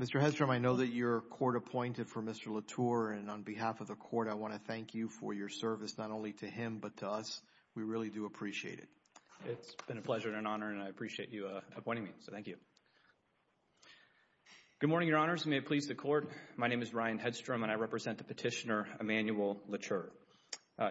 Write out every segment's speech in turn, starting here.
Mr. Hedstrom, I know that you're court-appointed for Mr. Lauture and on behalf of the court, I want to thank you for your service not only to him, but to us. We really do appreciate it. It's been a pleasure and an honor and I appreciate you appointing me, so thank you. Good morning, Your Honors. May it please the court, my name is Ryan Hedstrom and I represent the petitioner, Emanuel Lauture.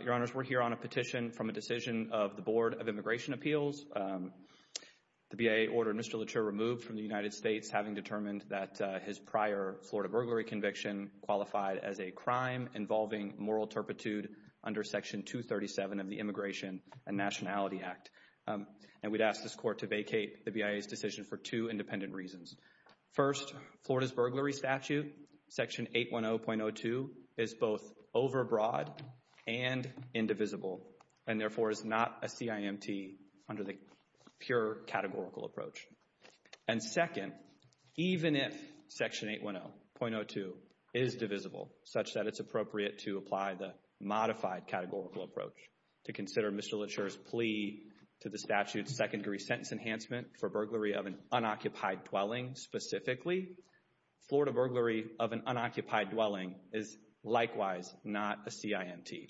Your Honors, we're here on a petition from a decision of the Board of Immigration Appeals. The BIA ordered Mr. Lauture removed from the United States having determined that his prior Florida burglary conviction qualified as a crime involving moral turpitude under Section 237 of the Immigration and Nationality Act. And we'd ask this court to vacate the BIA's decision for two independent reasons. First, Florida's burglary statute, Section 810.02, is both overbroad and indivisible and therefore is not a CIMT under the pure categorical approach. And second, even if Section 810.02 is divisible, such that it's appropriate to apply the modified categorical approach to consider Mr. Lauture's plea to the statute's second degree sentence enhancement for burglary of an unoccupied dwelling specifically, Florida burglary of an unoccupied dwelling is likewise not a CIMT.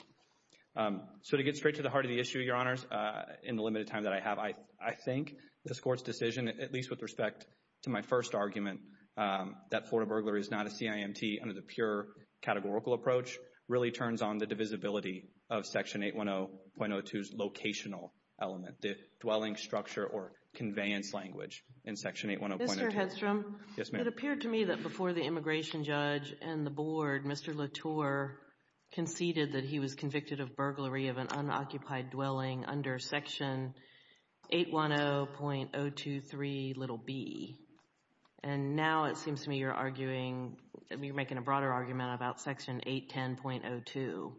So to get straight to the heart of the issue, Your Honors, in the limited time that I have, I think this court's decision, at least with respect to my first argument that Florida burglary is not a CIMT under the pure categorical approach, really turns on the divisibility of Section 810.02's locational element, the dwelling structure or conveyance language in Section 810.02. Mr. Hedstrom, it appeared to me that before the immigration judge and the board, Mr. Lauture conceded that he was convicted of burglary of an unoccupied dwelling under Section 810.023b. And now it seems to me you're arguing, you're making a broader argument about Section 810.02.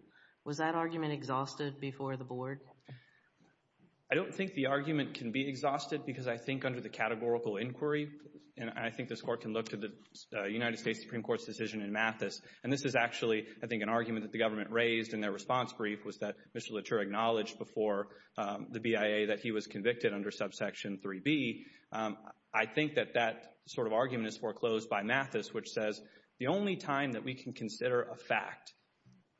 Was that argument exhausted before the board? I don't think the argument can be exhausted because I think under the categorical inquiry, and I think this court can look to the United States Supreme Court's decision in Mathis, and this is actually, I think, an argument that the government raised in their response brief was that Mr. Lauture acknowledged before the BIA that he was convicted under subsection 3b. I think that that sort of argument is foreclosed by Mathis, which says the only time that we can consider a fact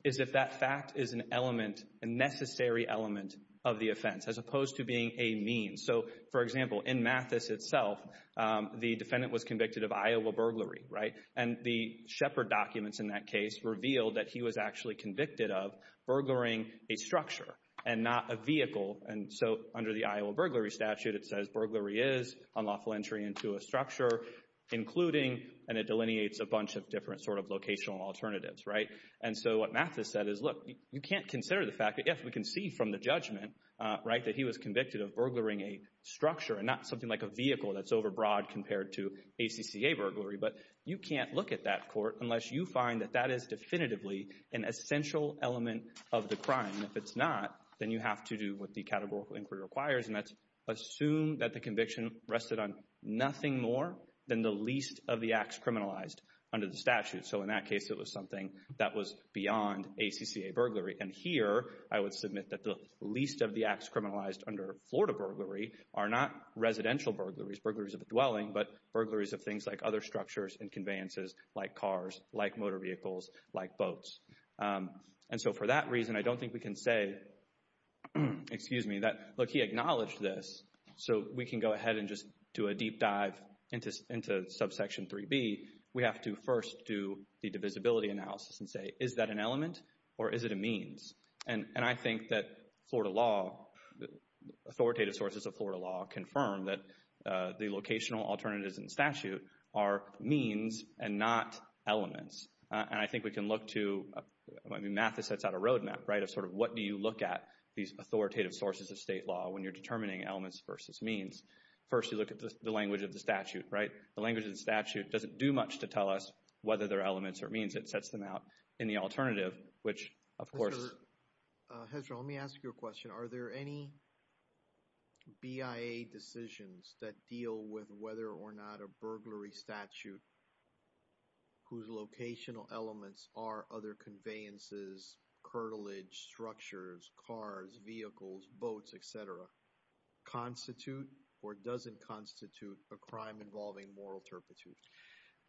is if that fact is an element, a necessary element of the offense, as opposed to being a means. So, for example, in Mathis itself, the defendant was convicted of Iowa burglary, right? And the Shepard documents in that case revealed that he was actually convicted of burglaring a structure and not a vehicle. And so under the Iowa burglary statute, it says burglary is unlawful entry into a structure, including, and it delineates a bunch of different sort of locational alternatives, right? And so what Mathis said is, look, you can't consider the fact that if we can see from the judgment, right, that he was convicted of burglaring a structure and not something like a vehicle that's overbroad compared to ACCA burglary. But you can't look at that court unless you find that that is definitively an essential element of the crime. And if it's not, then you have to do what the categorical inquiry requires, and that's assume that the conviction rested on nothing more than the least of the acts criminalized under the statute. So in that case, it was something that was beyond ACCA burglary. And here, I would submit that the least of the acts criminalized under Florida burglary are not residential burglaries, burglaries of the dwelling, but burglaries of things like other structures and conveyances like cars, like motor vehicles, like boats. And so for that reason, I don't think we can say, excuse me, that, look, he acknowledged this. So we can go ahead and just do a deep dive into subsection 3B. We have to first do the divisibility analysis and say, is that an element or is it a means? And I think that Florida law, authoritative sources of Florida law confirm that the locational alternatives in statute are means and not elements. And I think we can look to, I mean, math sets out a roadmap, right, of sort of what do you look at these authoritative sources of state law when you're determining elements versus means. First, you look at the language of the statute, right? The language of the statute doesn't do much to tell us whether they're elements or means. It sets them out in the alternative, which, of course— Ezra, let me ask you a question. Are there any BIA decisions that deal with whether or not a burglary statute whose locational elements are other conveyances, curtilage, structures, cars, vehicles, boats, et cetera, constitute or doesn't constitute a crime involving moral turpitude?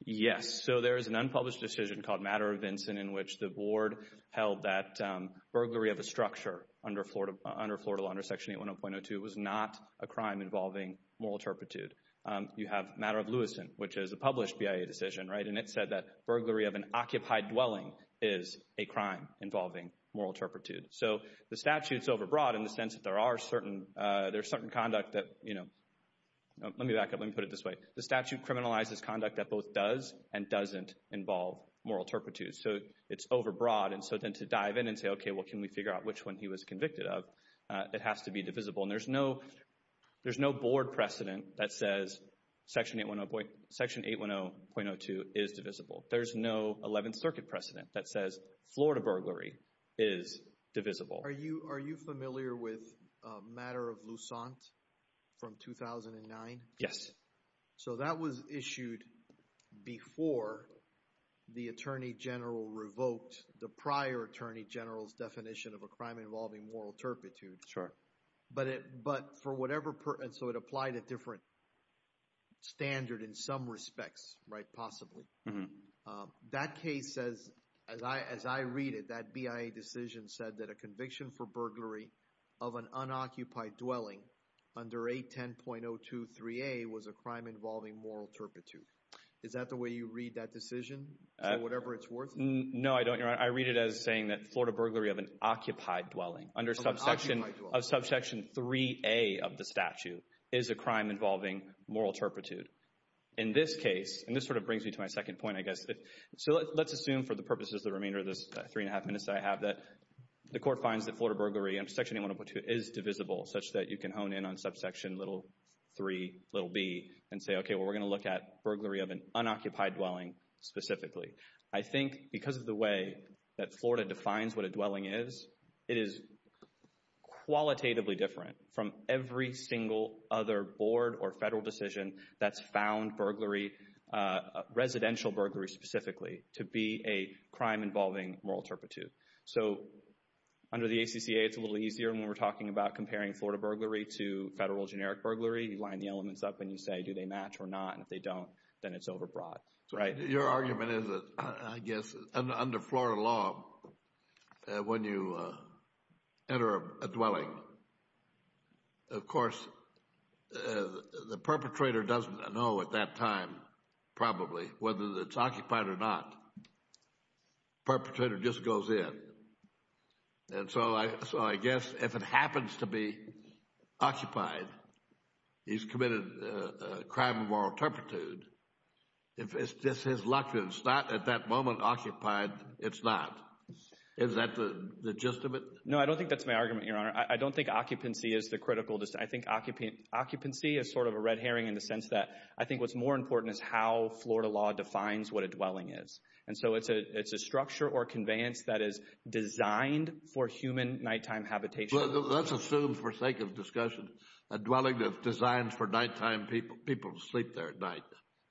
Yes, so there is an unpublished decision called Matter of Vincent in which the board held that burglary of a structure under Florida law under Section 810.02 was not a crime involving moral turpitude. You have Matter of Lewiston, which is a published BIA decision, right, and it said that burglary of an occupied dwelling is a crime involving moral turpitude. So the statute's overbroad in the sense that there are certain—there's certain conduct that, you know—let me back up. Let me put it this way. The statute criminalizes conduct that both does and doesn't involve moral turpitude, so it's overbroad. And so then to dive in and say, okay, well, can we figure out which one he was convicted of? It has to be divisible, and there's no board precedent that says Section 810.02 is divisible. There's no Eleventh Circuit precedent that says Florida burglary is divisible. Are you familiar with Matter of Lusant from 2009? Yes. So that was issued before the attorney general revoked the prior attorney general's definition of a crime involving moral turpitude. Sure. But for whatever—and so it applied a different standard in some respects, right, possibly. That case says, as I read it, that BIA decision said that a conviction for burglary of an unoccupied dwelling under 810.02.3a was a crime involving moral turpitude. Is that the way you read that decision? So whatever it's worth? No, I don't. I read it as saying that Florida burglary of an occupied dwelling under subsection—of subsection 3a of the statute is a crime involving moral turpitude. In this case—and this sort of brings me to my second point, I guess. So let's assume for the purposes of the remainder of this three-and-a-half minutes that I have that the court finds that Florida burglary under Section 810.02 is divisible, such that you can hone in on subsection 3b and say, okay, well, we're going to look at burglary of an unoccupied dwelling specifically. I think because of the way that Florida defines what a dwelling is, it is qualitatively different from every single other board or federal decision that's found burglary, residential burglary specifically, to be a crime involving moral turpitude. So under the ACCA, it's a little easier when we're talking about comparing Florida burglary to federal generic burglary. You line the elements up and you say, do they match or not, and if they don't, then it's overbroad, right? Your argument is that, I guess, under Florida law, when you enter a dwelling, of course, the perpetrator doesn't know at that time, probably, whether it's occupied or not. The perpetrator just goes in. And so I guess if it happens to be occupied, he's committed a crime of moral turpitude. If it's just his luck that it's not at that moment occupied, it's not. Is that the gist of it? No, I don't think that's my argument, Your Honor. I don't think occupancy is the critical decision. I think occupancy is sort of a red herring in the sense that I think what's more important is how Florida law defines what a dwelling is. And so it's a structure or conveyance that is designed for human nighttime habitation. Let's assume, for sake of discussion, a dwelling that's designed for nighttime people to sleep there at night,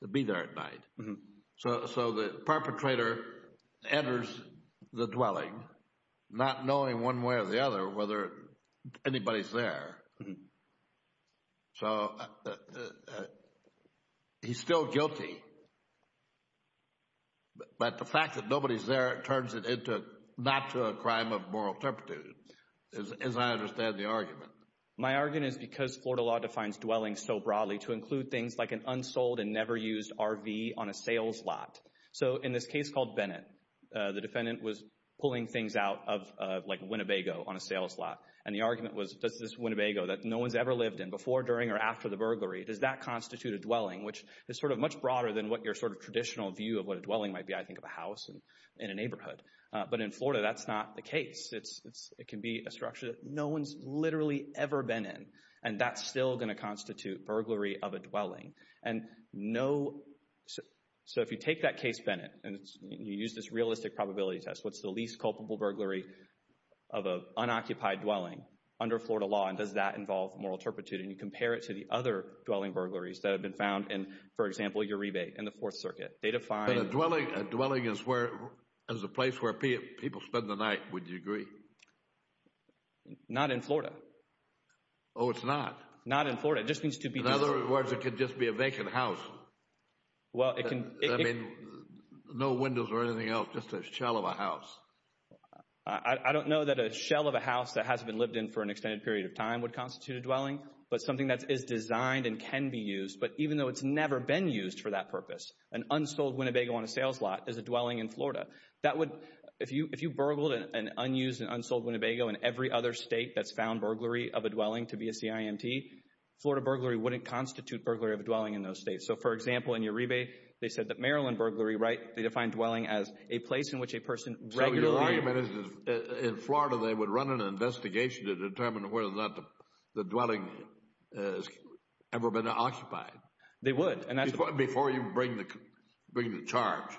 to be there at night. So the perpetrator enters the dwelling not knowing one way or the other whether anybody's there. So he's still guilty, but the fact that nobody's there turns it into not to a crime of moral turpitude, as I understand the argument. My argument is because Florida law defines dwellings so broadly to include things like an unsold and never used RV on a sales lot. So in this case called Bennett, the defendant was pulling things out of, like, Winnebago on a sales lot. And the argument was, does this Winnebago that no one's ever lived in before, during, or after the burglary, does that constitute a dwelling? Which is sort of much broader than what your sort of traditional view of what a dwelling might be. I think of a house in a neighborhood. But in Florida, that's not the case. It can be a structure that no one's literally ever been in, and that's still going to constitute burglary of a dwelling. So if you take that case, Bennett, and you use this realistic probability test, what's the least culpable burglary of an unoccupied dwelling under Florida law? And does that involve moral turpitude? And you compare it to the other dwelling burglaries that have been found in, for example, Uribe in the Fourth Circuit. But a dwelling is a place where people spend the night, would you agree? Not in Florida. Oh, it's not? Not in Florida. In other words, it could just be a vacant house. I mean, no windows or anything else, just a shell of a house. I don't know that a shell of a house that hasn't been lived in for an extended period of time would constitute a dwelling, but something that is designed and can be used, but even though it's never been used for that purpose, an unsold Winnebago on a sales lot is a dwelling in Florida. That would, if you burgled an unused and unsold Winnebago in every other state that's found burglary of a dwelling to be a CIMT, Florida burglary wouldn't constitute burglary of a dwelling in those states. So, for example, in Uribe, they said that Maryland burglary, right, they defined dwelling as a place in which a person regularly So your argument is that in Florida they would run an investigation to determine whether or not the dwelling has ever been occupied. They would. Before you bring the charge.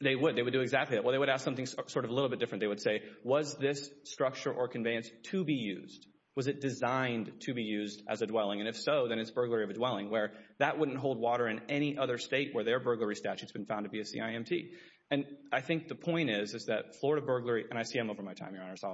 They would. They would do exactly that. Well, they would ask something sort of a little bit different. They would say, was this structure or conveyance to be used? Was it designed to be used as a dwelling? And if so, then it's burglary of a dwelling where that wouldn't hold water in any other state where their burglary statute's been found to be a CIMT. And I think the point is, is that Florida burglary, and I see I'm over my time, Your Honor, so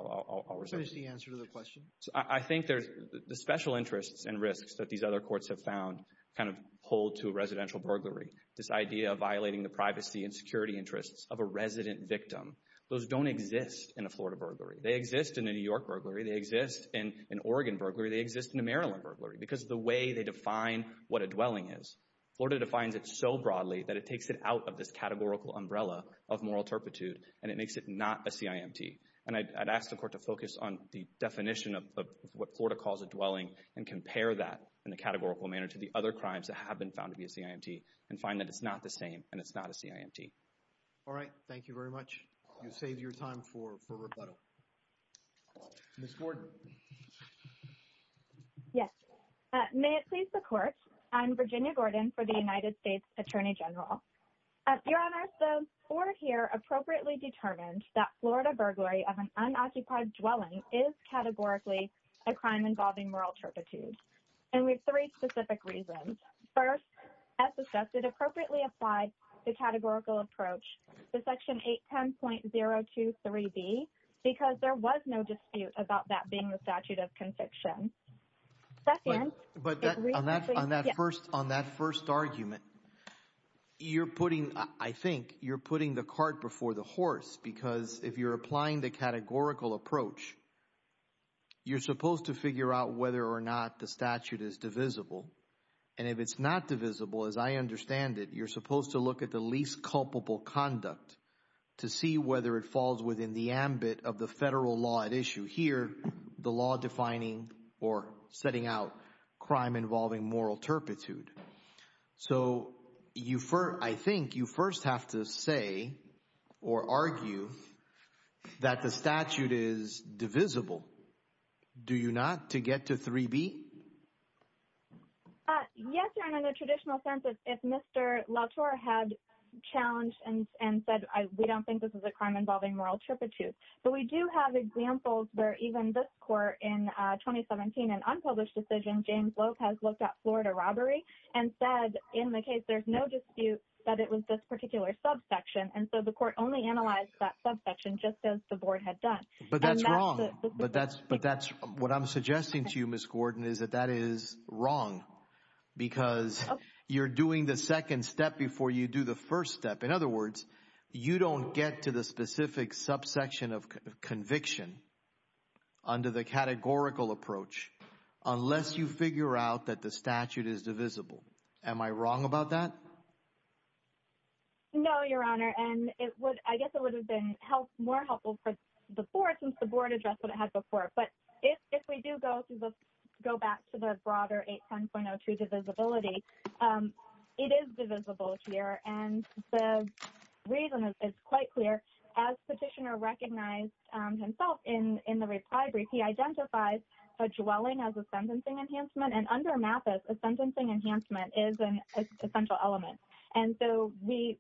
I'll resume. What is the answer to the question? I think there's the special interests and risks that these other courts have found kind of hold to residential burglary. This idea of violating the privacy and security interests of a resident victim. Those don't exist in a Florida burglary. They exist in a New York burglary. They exist in an Oregon burglary. They exist in a Maryland burglary because of the way they define what a dwelling is. Florida defines it so broadly that it takes it out of this categorical umbrella of moral turpitude, and it makes it not a CIMT. And I'd ask the Court to focus on the definition of what Florida calls a dwelling and compare that in a categorical manner to the other crimes that have been found to be a CIMT and find that it's not the same and it's not a CIMT. All right. Thank you very much. You saved your time for rebuttal. Ms. Gordon. Yes. May it please the Court, I'm Virginia Gordon for the United States Attorney General. Your Honor, the Court here appropriately determined that Florida burglary of an unoccupied dwelling is categorically a crime involving moral turpitude. And we have three specific reasons. First, as discussed, it appropriately applied the categorical approach to Section 810.023B because there was no dispute about that being the statute of conviction. But on that first argument, you're putting, I think, you're putting the cart before the horse. Because if you're applying the categorical approach, you're supposed to figure out whether or not the statute is divisible. And if it's not divisible, as I understand it, you're supposed to look at the least culpable conduct to see whether it falls within the ambit of the federal law at issue. And you hear the law defining or setting out crime involving moral turpitude. So you – I think you first have to say or argue that the statute is divisible. Do you not, to get to 3B? Yes, Your Honor, in the traditional sense, if Mr. Lautore had challenged and said we don't think this is a crime involving moral turpitude. But we do have examples where even this court in 2017, an unpublished decision, James Lope has looked at Florida robbery and said in the case there's no dispute that it was this particular subsection. And so the court only analyzed that subsection just as the board had done. But that's wrong. But that's what I'm suggesting to you, Ms. Gordon, is that that is wrong because you're doing the second step before you do the first step. In other words, you don't get to the specific subsection of conviction under the categorical approach unless you figure out that the statute is divisible. Am I wrong about that? No, Your Honor. And it would – I guess it would have been more helpful for the board since the board addressed what it had before. But if we do go back to the broader 810.02 divisibility, it is divisible here. And the reason is quite clear. As Petitioner recognized himself in the reply brief, he identifies a dwelling as a sentencing enhancement. And under MAPIS, a sentencing enhancement is an essential element. And so we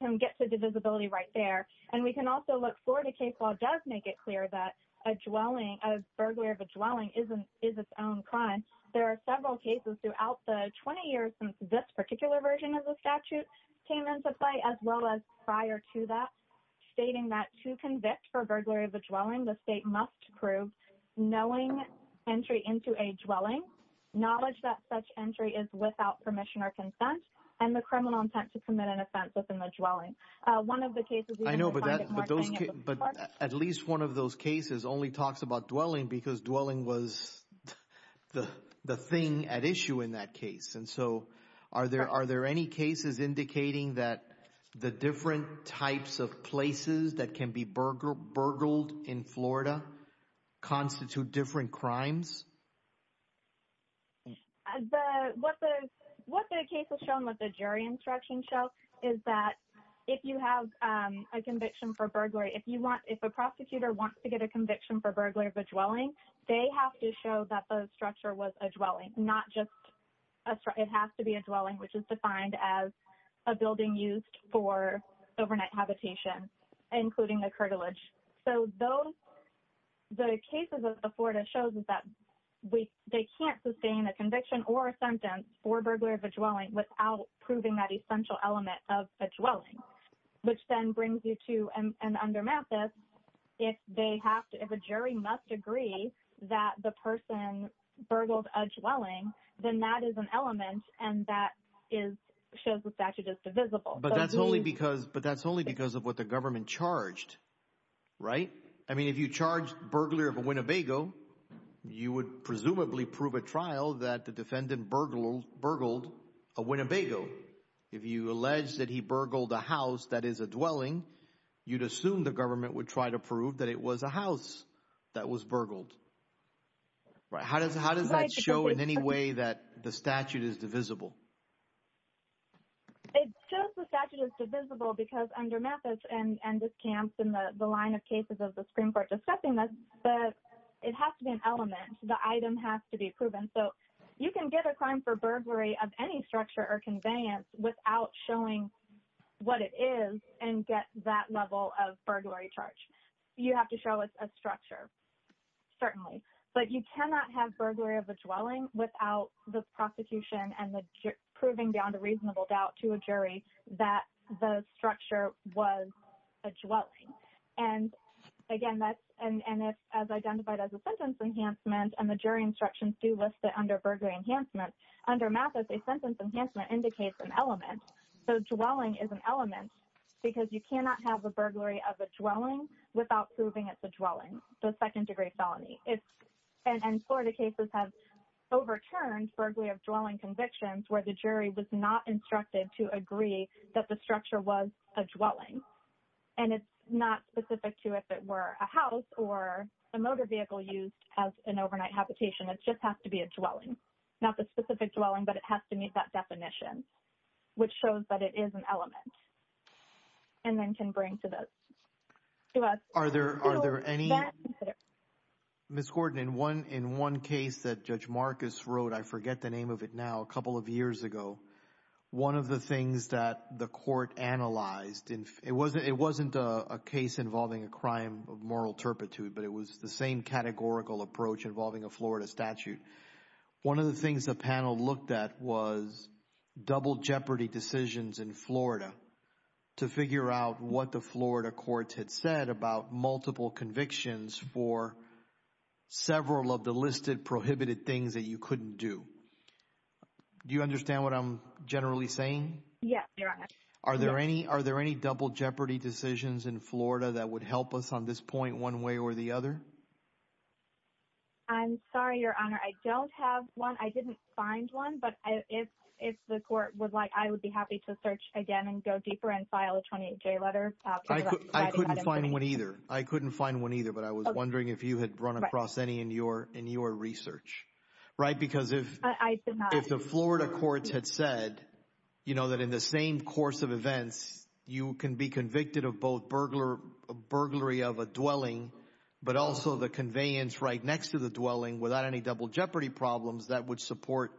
can get to divisibility right there. And we can also look forward to case law does make it clear that a dwelling – a burglary of a dwelling is its own crime. There are several cases throughout the 20 years since this particular version of the statute came into play as well as prior to that stating that to convict for burglary of a dwelling, the state must prove knowing entry into a dwelling, knowledge that such entry is without permission or consent, and the criminal intent to commit an offense within the dwelling. One of the cases – I know, but at least one of those cases only talks about dwelling because dwelling was the thing at issue in that case. And so are there any cases indicating that the different types of places that can be burgled in Florida constitute different crimes? What the case has shown, what the jury instruction shows, is that if you have a conviction for burglary, if you want – if a prosecutor wants to get a conviction for burglary of a dwelling, they have to show that the structure was a dwelling, not just – it has to be a dwelling, which is defined as a building used for overnight habitation, including the curtilage. So those – the cases of Florida shows that they can't sustain a conviction or a sentence for burglary of a dwelling without proving that essential element of a dwelling, which then brings you to – and under Mathis, if they have to – if a jury must agree that the person burgled a dwelling, then that is an element, and that is – shows the statute is divisible. But that's only because – but that's only because of what the government charged, right? I mean if you charged burglar of a Winnebago, you would presumably prove at trial that the defendant burgled a Winnebago. If you allege that he burgled a house that is a dwelling, you'd assume the government would try to prove that it was a house that was burgled. How does that show in any way that the statute is divisible? It shows the statute is divisible because under Mathis and this camps and the line of cases of the Supreme Court discussing this, it has to be an element. The item has to be proven. So you can get a crime for burglary of any structure or conveyance without showing what it is and get that level of burglary charge. You have to show it's a structure, certainly. But you cannot have burglary of a dwelling without the prosecution and the – proving beyond a reasonable doubt to a jury that the structure was a dwelling. And, again, that's – and it's identified as a sentence enhancement, and the jury instructions do list it under burglary enhancement. Under Mathis, a sentence enhancement indicates an element. So dwelling is an element because you cannot have a burglary of a dwelling without proving it's a dwelling, the second-degree felony. And Florida cases have overturned burglary of dwelling convictions where the jury was not instructed to agree that the structure was a dwelling. And it's not specific to if it were a house or a motor vehicle used as an overnight habitation. It just has to be a dwelling, not the specific dwelling, but it has to meet that definition. Which shows that it is an element and then can bring to the – to us – Are there – are there any – Ms. Gordon, in one case that Judge Marcus wrote, I forget the name of it now, a couple of years ago, one of the things that the court analyzed – it wasn't a case involving a crime of moral turpitude, but it was the same categorical approach involving a Florida statute. One of the things the panel looked at was double jeopardy decisions in Florida to figure out what the Florida courts had said about multiple convictions for several of the listed prohibited things that you couldn't do. Do you understand what I'm generally saying? Yes, Your Honor. Are there any – are there any double jeopardy decisions in Florida that would help us on this point one way or the other? I'm sorry, Your Honor, I don't have one. I didn't find one, but if the court would like, I would be happy to search again and go deeper and file a 28-J letter. I couldn't find one either. I couldn't find one either, but I was wondering if you had run across any in your research. Right, because if – I did not. If the Florida courts had said that in the same course of events you can be convicted of both burglary of a dwelling but also the conveyance right next to the dwelling without any double jeopardy problems, that would support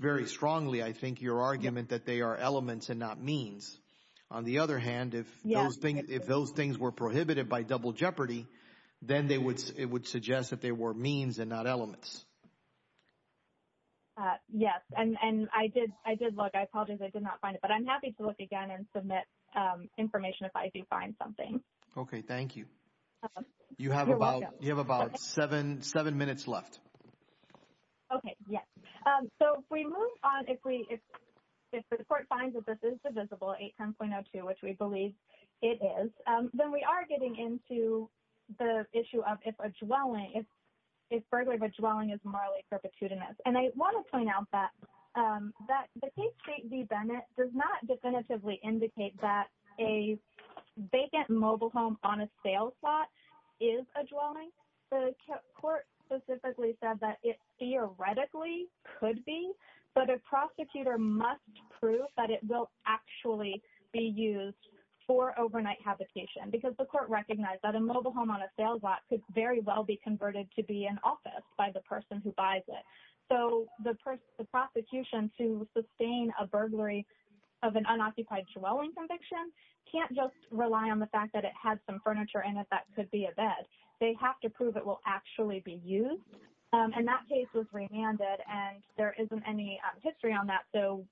very strongly, I think, your argument that they are elements and not means. On the other hand, if those things were prohibited by double jeopardy, then it would suggest that they were means and not elements. Yes, and I did look. I apologize. I did not find it, but I'm happy to look again and submit information if I do find something. Okay. Thank you. You're welcome. You have about seven minutes left. Okay. Yes. So if we move on, if the court finds that this is divisible, 810.02, which we believe it is, then we are getting into the issue of if a dwelling – if burglary of a dwelling is morally perpetuitous. And I want to point out that the case state v. Bennett does not definitively indicate that a vacant mobile home on a sales lot is a dwelling. The court specifically said that it theoretically could be, but a prosecutor must prove that it will actually be used for overnight habitation, because the court recognized that a mobile home on a sales lot could very well be converted to be an office by the person who buys it. So the prosecution, to sustain a burglary of an unoccupied dwelling conviction, can't just rely on the fact that it has some furniture in it that could be a bed. They have to prove it will actually be used. And that case was remanded, and there isn't any history on that, so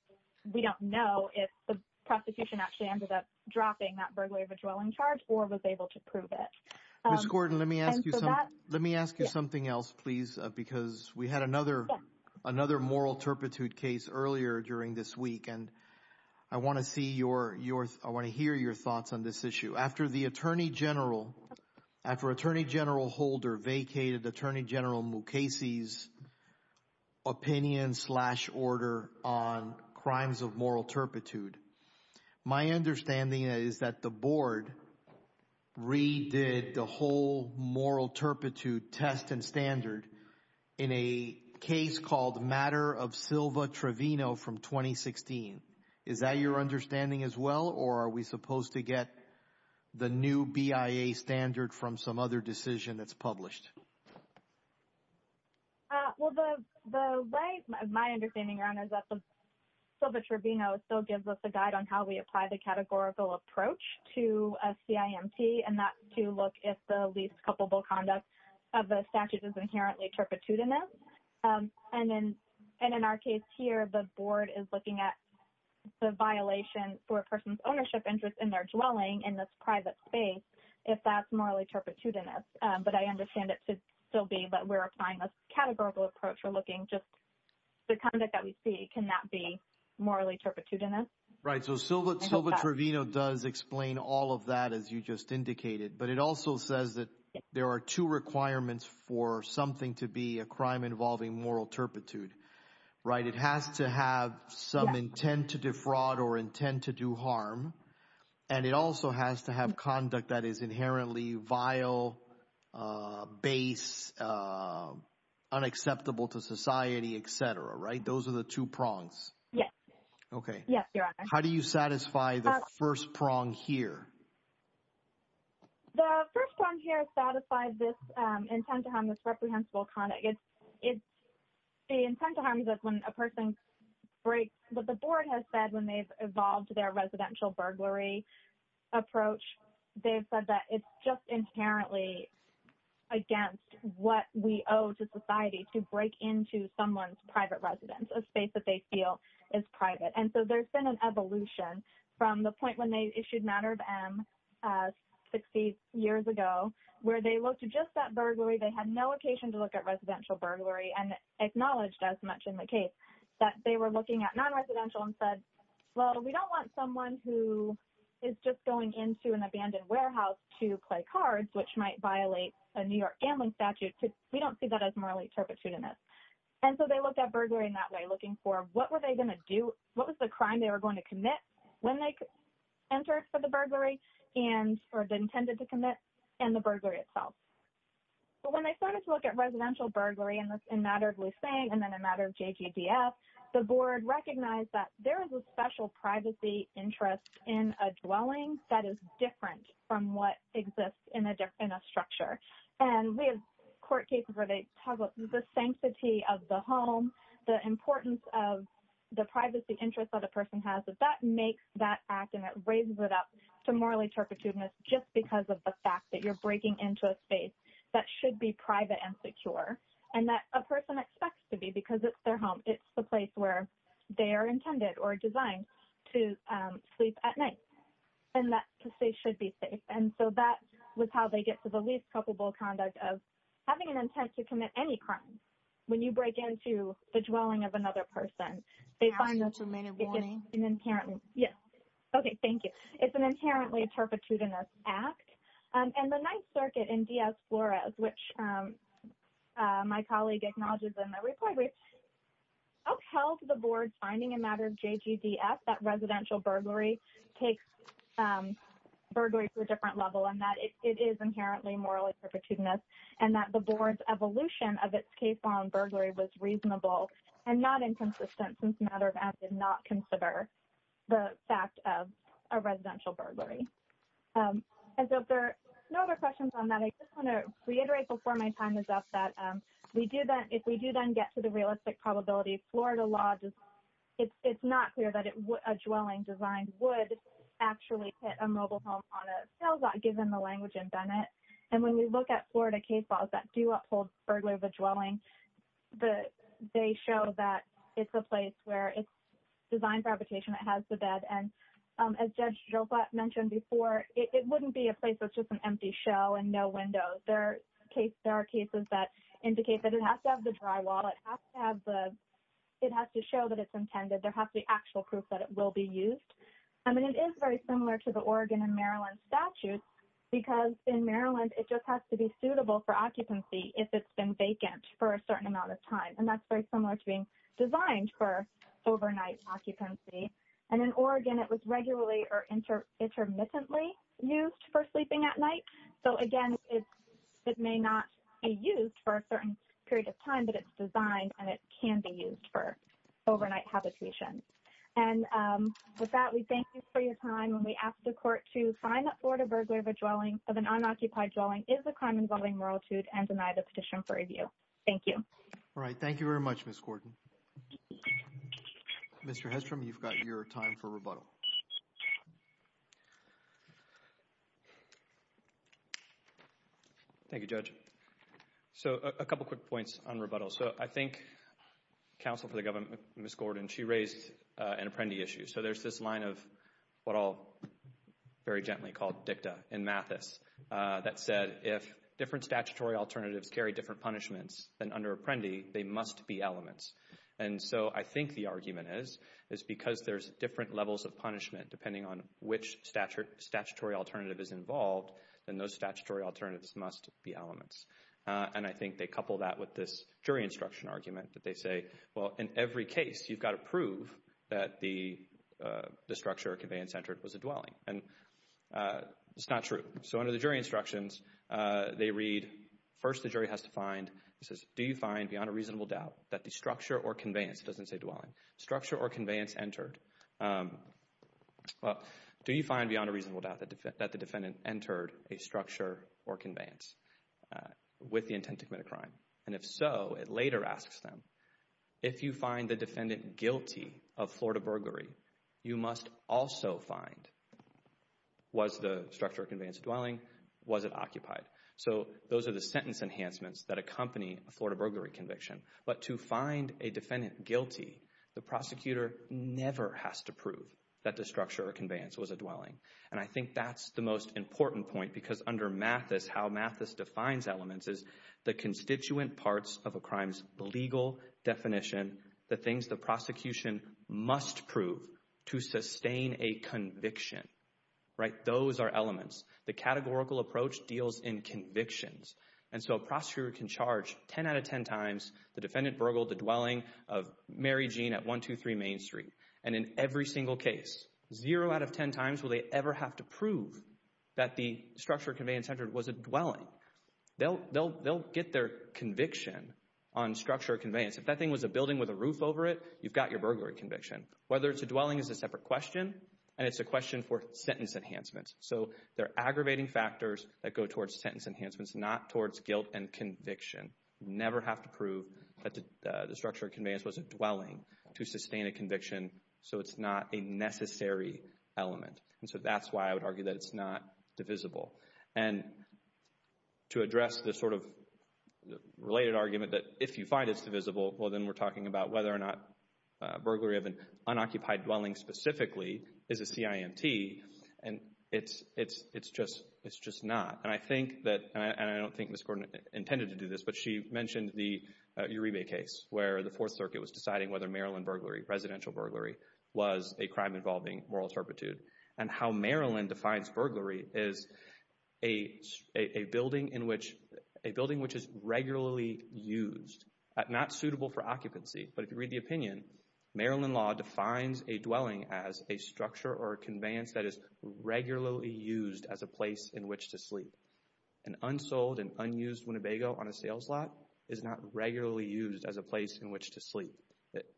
we don't know if the prosecution actually ended up dropping that burglary of a dwelling charge or was able to prove it. Ms. Gordon, let me ask you something else, please, because we had another moral turpitude case earlier during this week, and I want to see your – I want to hear your thoughts on this issue. After the attorney general – after Attorney General Holder vacated Attorney General Mukasey's opinion slash order on crimes of moral turpitude, my understanding is that the board redid the whole moral turpitude test and standard in a case called Matter of Silva Trevino from 2016. Is that your understanding as well, or are we supposed to get the new BIA standard from some other decision that's published? Well, the way my understanding, Your Honor, is that the Silva Trevino still gives us a guide on how we apply the categorical approach to a CIMT and not to look at the least culpable conduct of a statute that's inherently turpitudinous. And in our case here, the board is looking at the violation for a person's ownership interest in their dwelling in this private space if that's morally turpitudinous. But I understand it to still be that we're applying this categorical approach. We're looking just – the conduct that we see cannot be morally turpitudinous. Right. So Silva Trevino does explain all of that, as you just indicated. But it also says that there are two requirements for something to be a crime involving moral turpitude, right? It has to have some intent to defraud or intent to do harm, and it also has to have conduct that is inherently vile, base, unacceptable to society, et cetera, right? Those are the two prongs. Yes. Okay. Yes, Your Honor. How do you satisfy the first prong here? The first prong here satisfies this intent to harm, this reprehensible conduct. It's – the intent to harm is when a person breaks – what the board has said when they've evolved their residential burglary approach, they've said that it's just inherently against what we owe to society to break into someone's private residence, a space that they feel is private. And so there's been an evolution from the point when they issued Matter of M 60 years ago where they looked at just that burglary. They had no occasion to look at residential burglary and acknowledged as much in the case that they were looking at nonresidential and said, well, we don't want someone who is just going into an abandoned warehouse to play cards, which might violate a New York gambling statute. We don't see that as morally turpitudinous. And so they looked at burglary in that way, looking for what were they going to do? What was the crime they were going to commit when they entered for the burglary and – or intended to commit in the burglary itself? But when they started to look at residential burglary in Matter of Lucey and then in Matter of JGDF, the board recognized that there is a special privacy interest in a dwelling that is different from what exists in a structure. And we have court cases where they talk about the sanctity of the home, the importance of the privacy interest that a person has, that that makes that act and it raises it up to morally turpitudinous just because of the fact that you're breaking into a space that should be private and secure and that a person expects to be because it's their home. It's the place where they are intended or designed to sleep at night and that space should be safe. And so that was how they get to the least culpable conduct of having an intent to commit any crime, when you break into the dwelling of another person. They find that it's an inherently – yes. Okay. Thank you. It's an inherently turpitudinous act. And the Ninth Circuit in Diaz-Flores, which my colleague acknowledges in the report, upheld the board's finding in matter of JGDF that residential burglary takes burglary to a different level and that it is inherently morally turpitudinous and that the board's evolution of its case on burglary was reasonable and not inconsistent since matter of act did not consider the fact of a residential burglary. And so if there are no other questions on that, I just want to reiterate before my time is up that if we do then get to the realistic probability, Florida law does – it's not clear that a dwelling designed would actually hit a mobile home on a sales lot, given the language in Bennett. And when we look at Florida case laws that do uphold burglary of a dwelling, they show that it's a place where it's designed for habitation, it has the bed. And as Judge Joppa mentioned before, it wouldn't be a place that's just an empty shell and no windows. There are cases that indicate that it has to have the drywall. It has to have the – it has to show that it's intended. There has to be actual proof that it will be used. And it is very similar to the Oregon and Maryland statute because in Maryland, it just has to be suitable for occupancy if it's been vacant for a certain amount of time. And that's very similar to being designed for overnight occupancy. And in Oregon, it was regularly or intermittently used for sleeping at night. So, again, it may not be used for a certain period of time, but it's designed and it can be used for overnight habitation. And with that, we thank you for your time. And we ask the Court to find that Florida burglary of a dwelling – of an unoccupied dwelling is a crime involving moralitude and deny the petition for review. Thank you. All right. Thank you very much, Ms. Gordon. Mr. Hestrom, you've got your time for rebuttal. Thank you, Judge. So a couple quick points on rebuttal. So I think counsel for the government, Ms. Gordon, she raised an apprendee issue. So there's this line of what I'll very gently call dicta in Mathis that said, if different statutory alternatives carry different punishments, then under apprendee, they must be elements. And so I think the argument is, is because there's different levels of punishment depending on which statutory alternative is involved, then those statutory alternatives must be elements. And I think they couple that with this jury instruction argument that they say, well, in every case, you've got to prove that the structure or conveyance entered was a dwelling. And it's not true. So under the jury instructions, they read, first the jury has to find, it says, do you find beyond a reasonable doubt that the structure or conveyance – well, do you find beyond a reasonable doubt that the defendant entered a structure or conveyance with the intent to commit a crime? And if so, it later asks them, if you find the defendant guilty of Florida burglary, you must also find, was the structure or conveyance a dwelling? Was it occupied? So those are the sentence enhancements that accompany a Florida burglary conviction. But to find a defendant guilty, the prosecutor never has to prove that the structure or conveyance was a dwelling. And I think that's the most important point because under Mathis, how Mathis defines elements is the constituent parts of a crime's legal definition, the things the prosecution must prove to sustain a conviction. Those are elements. The categorical approach deals in convictions. And so a prosecutor can charge 10 out of 10 times the defendant burgled the dwelling of Mary Jean at 123 Main Street. And in every single case, zero out of 10 times will they ever have to prove that the structure or conveyance entered was a dwelling. They'll get their conviction on structure or conveyance. If that thing was a building with a roof over it, you've got your burglary conviction. Whether it's a dwelling is a separate question, and it's a question for sentence enhancements. So they're aggravating factors that go towards sentence enhancements, not towards guilt and conviction. Never have to prove that the structure or conveyance was a dwelling to sustain a conviction so it's not a necessary element. And so that's why I would argue that it's not divisible. And to address the sort of related argument that if you find it's divisible, well, then we're talking about whether or not burglary of an unoccupied dwelling specifically is a CIMT, it's just not. And I don't think Ms. Gordon intended to do this, but she mentioned the Uribe case where the Fourth Circuit was deciding whether Maryland burglary, residential burglary, was a crime involving moral turpitude. And how Maryland defines burglary is a building which is regularly used, not suitable for occupancy, but if you read the opinion, Maryland law defines a dwelling as a structure or conveyance that is regularly used as a place in which to sleep. An unsold and unused Winnebago on a sales lot is not regularly used as a place in which to sleep.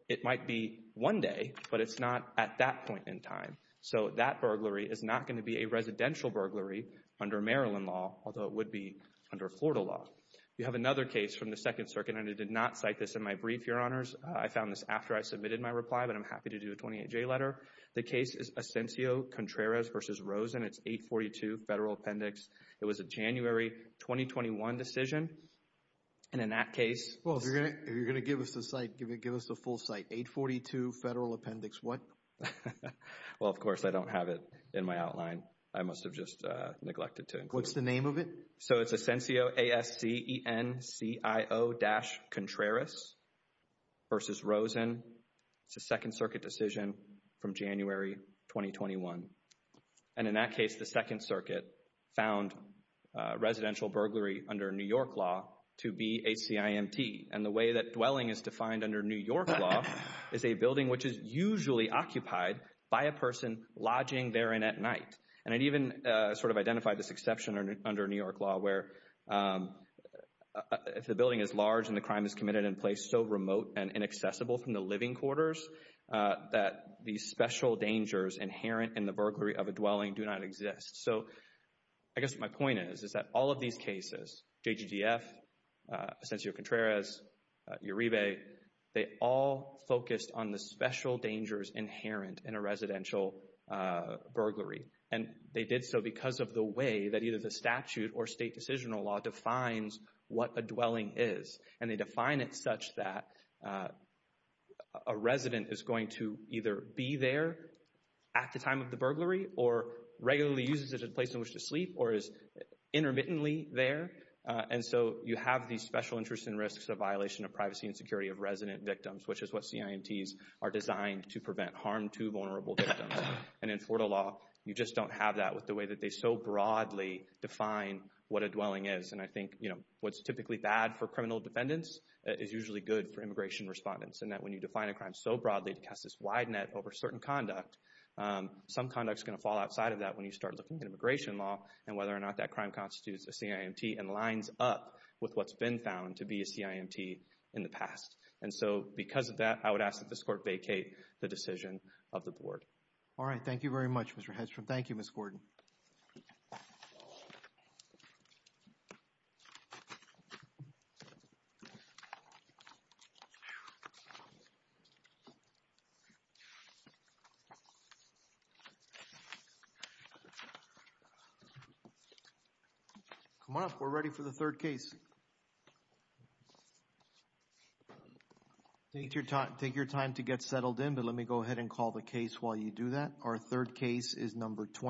It might be one day, but it's not at that point in time. So that burglary is not going to be a residential burglary under Maryland law, although it would be under Florida law. We have another case from the Second Circuit, and I did not cite this in my brief, Your Honors. I found this after I submitted my reply, but I'm happy to do a 28-J letter. The case is Ascensio-Contreras v. Rosen. It's 842 Federal Appendix. It was a January 2021 decision, and in that case— Well, if you're going to give us the site, give us the full site. 842 Federal Appendix what? Well, of course, I don't have it in my outline. I must have just neglected to include it. What's the name of it? So it's Ascensio-Contreras v. Rosen. It's a Second Circuit decision from January 2021. And in that case, the Second Circuit found residential burglary under New York law to be HCIMT. And the way that dwelling is defined under New York law is a building which is usually occupied by a person lodging therein at night. And I even sort of identified this exception under New York law where if the building is large and the crime is committed in a place so remote and inaccessible from the living quarters, that the special dangers inherent in the burglary of a dwelling do not exist. So I guess my point is that all of these cases—JGDF, Ascensio-Contreras, Uribe— they all focused on the special dangers inherent in a residential burglary. And they did so because of the way that either the statute or state decisional law defines what a dwelling is. And they define it such that a resident is going to either be there at the time of the burglary or regularly uses it as a place in which to sleep or is intermittently there. And so you have these special interests and risks of violation of privacy and security of resident victims, which is what CIMTs are designed to prevent harm to vulnerable victims. And in Florida law, you just don't have that with the way that they so broadly define what a dwelling is. And I think, you know, what's typically bad for criminal defendants is usually good for immigration respondents. And that when you define a crime so broadly to cast this wide net over certain conduct, some conduct is going to fall outside of that when you start looking at immigration law and whether or not that crime constitutes a CIMT and lines up with what's been found to be a CIMT in the past. And so because of that, I would ask that this Court vacate the decision of the Board. All right. Thank you very much, Mr. Hedges. Thank you, Ms. Gordon. Come on up. We're ready for the third case. Take your time to get settled in, but let me go ahead and call the case while you do that. Our third case is number 20.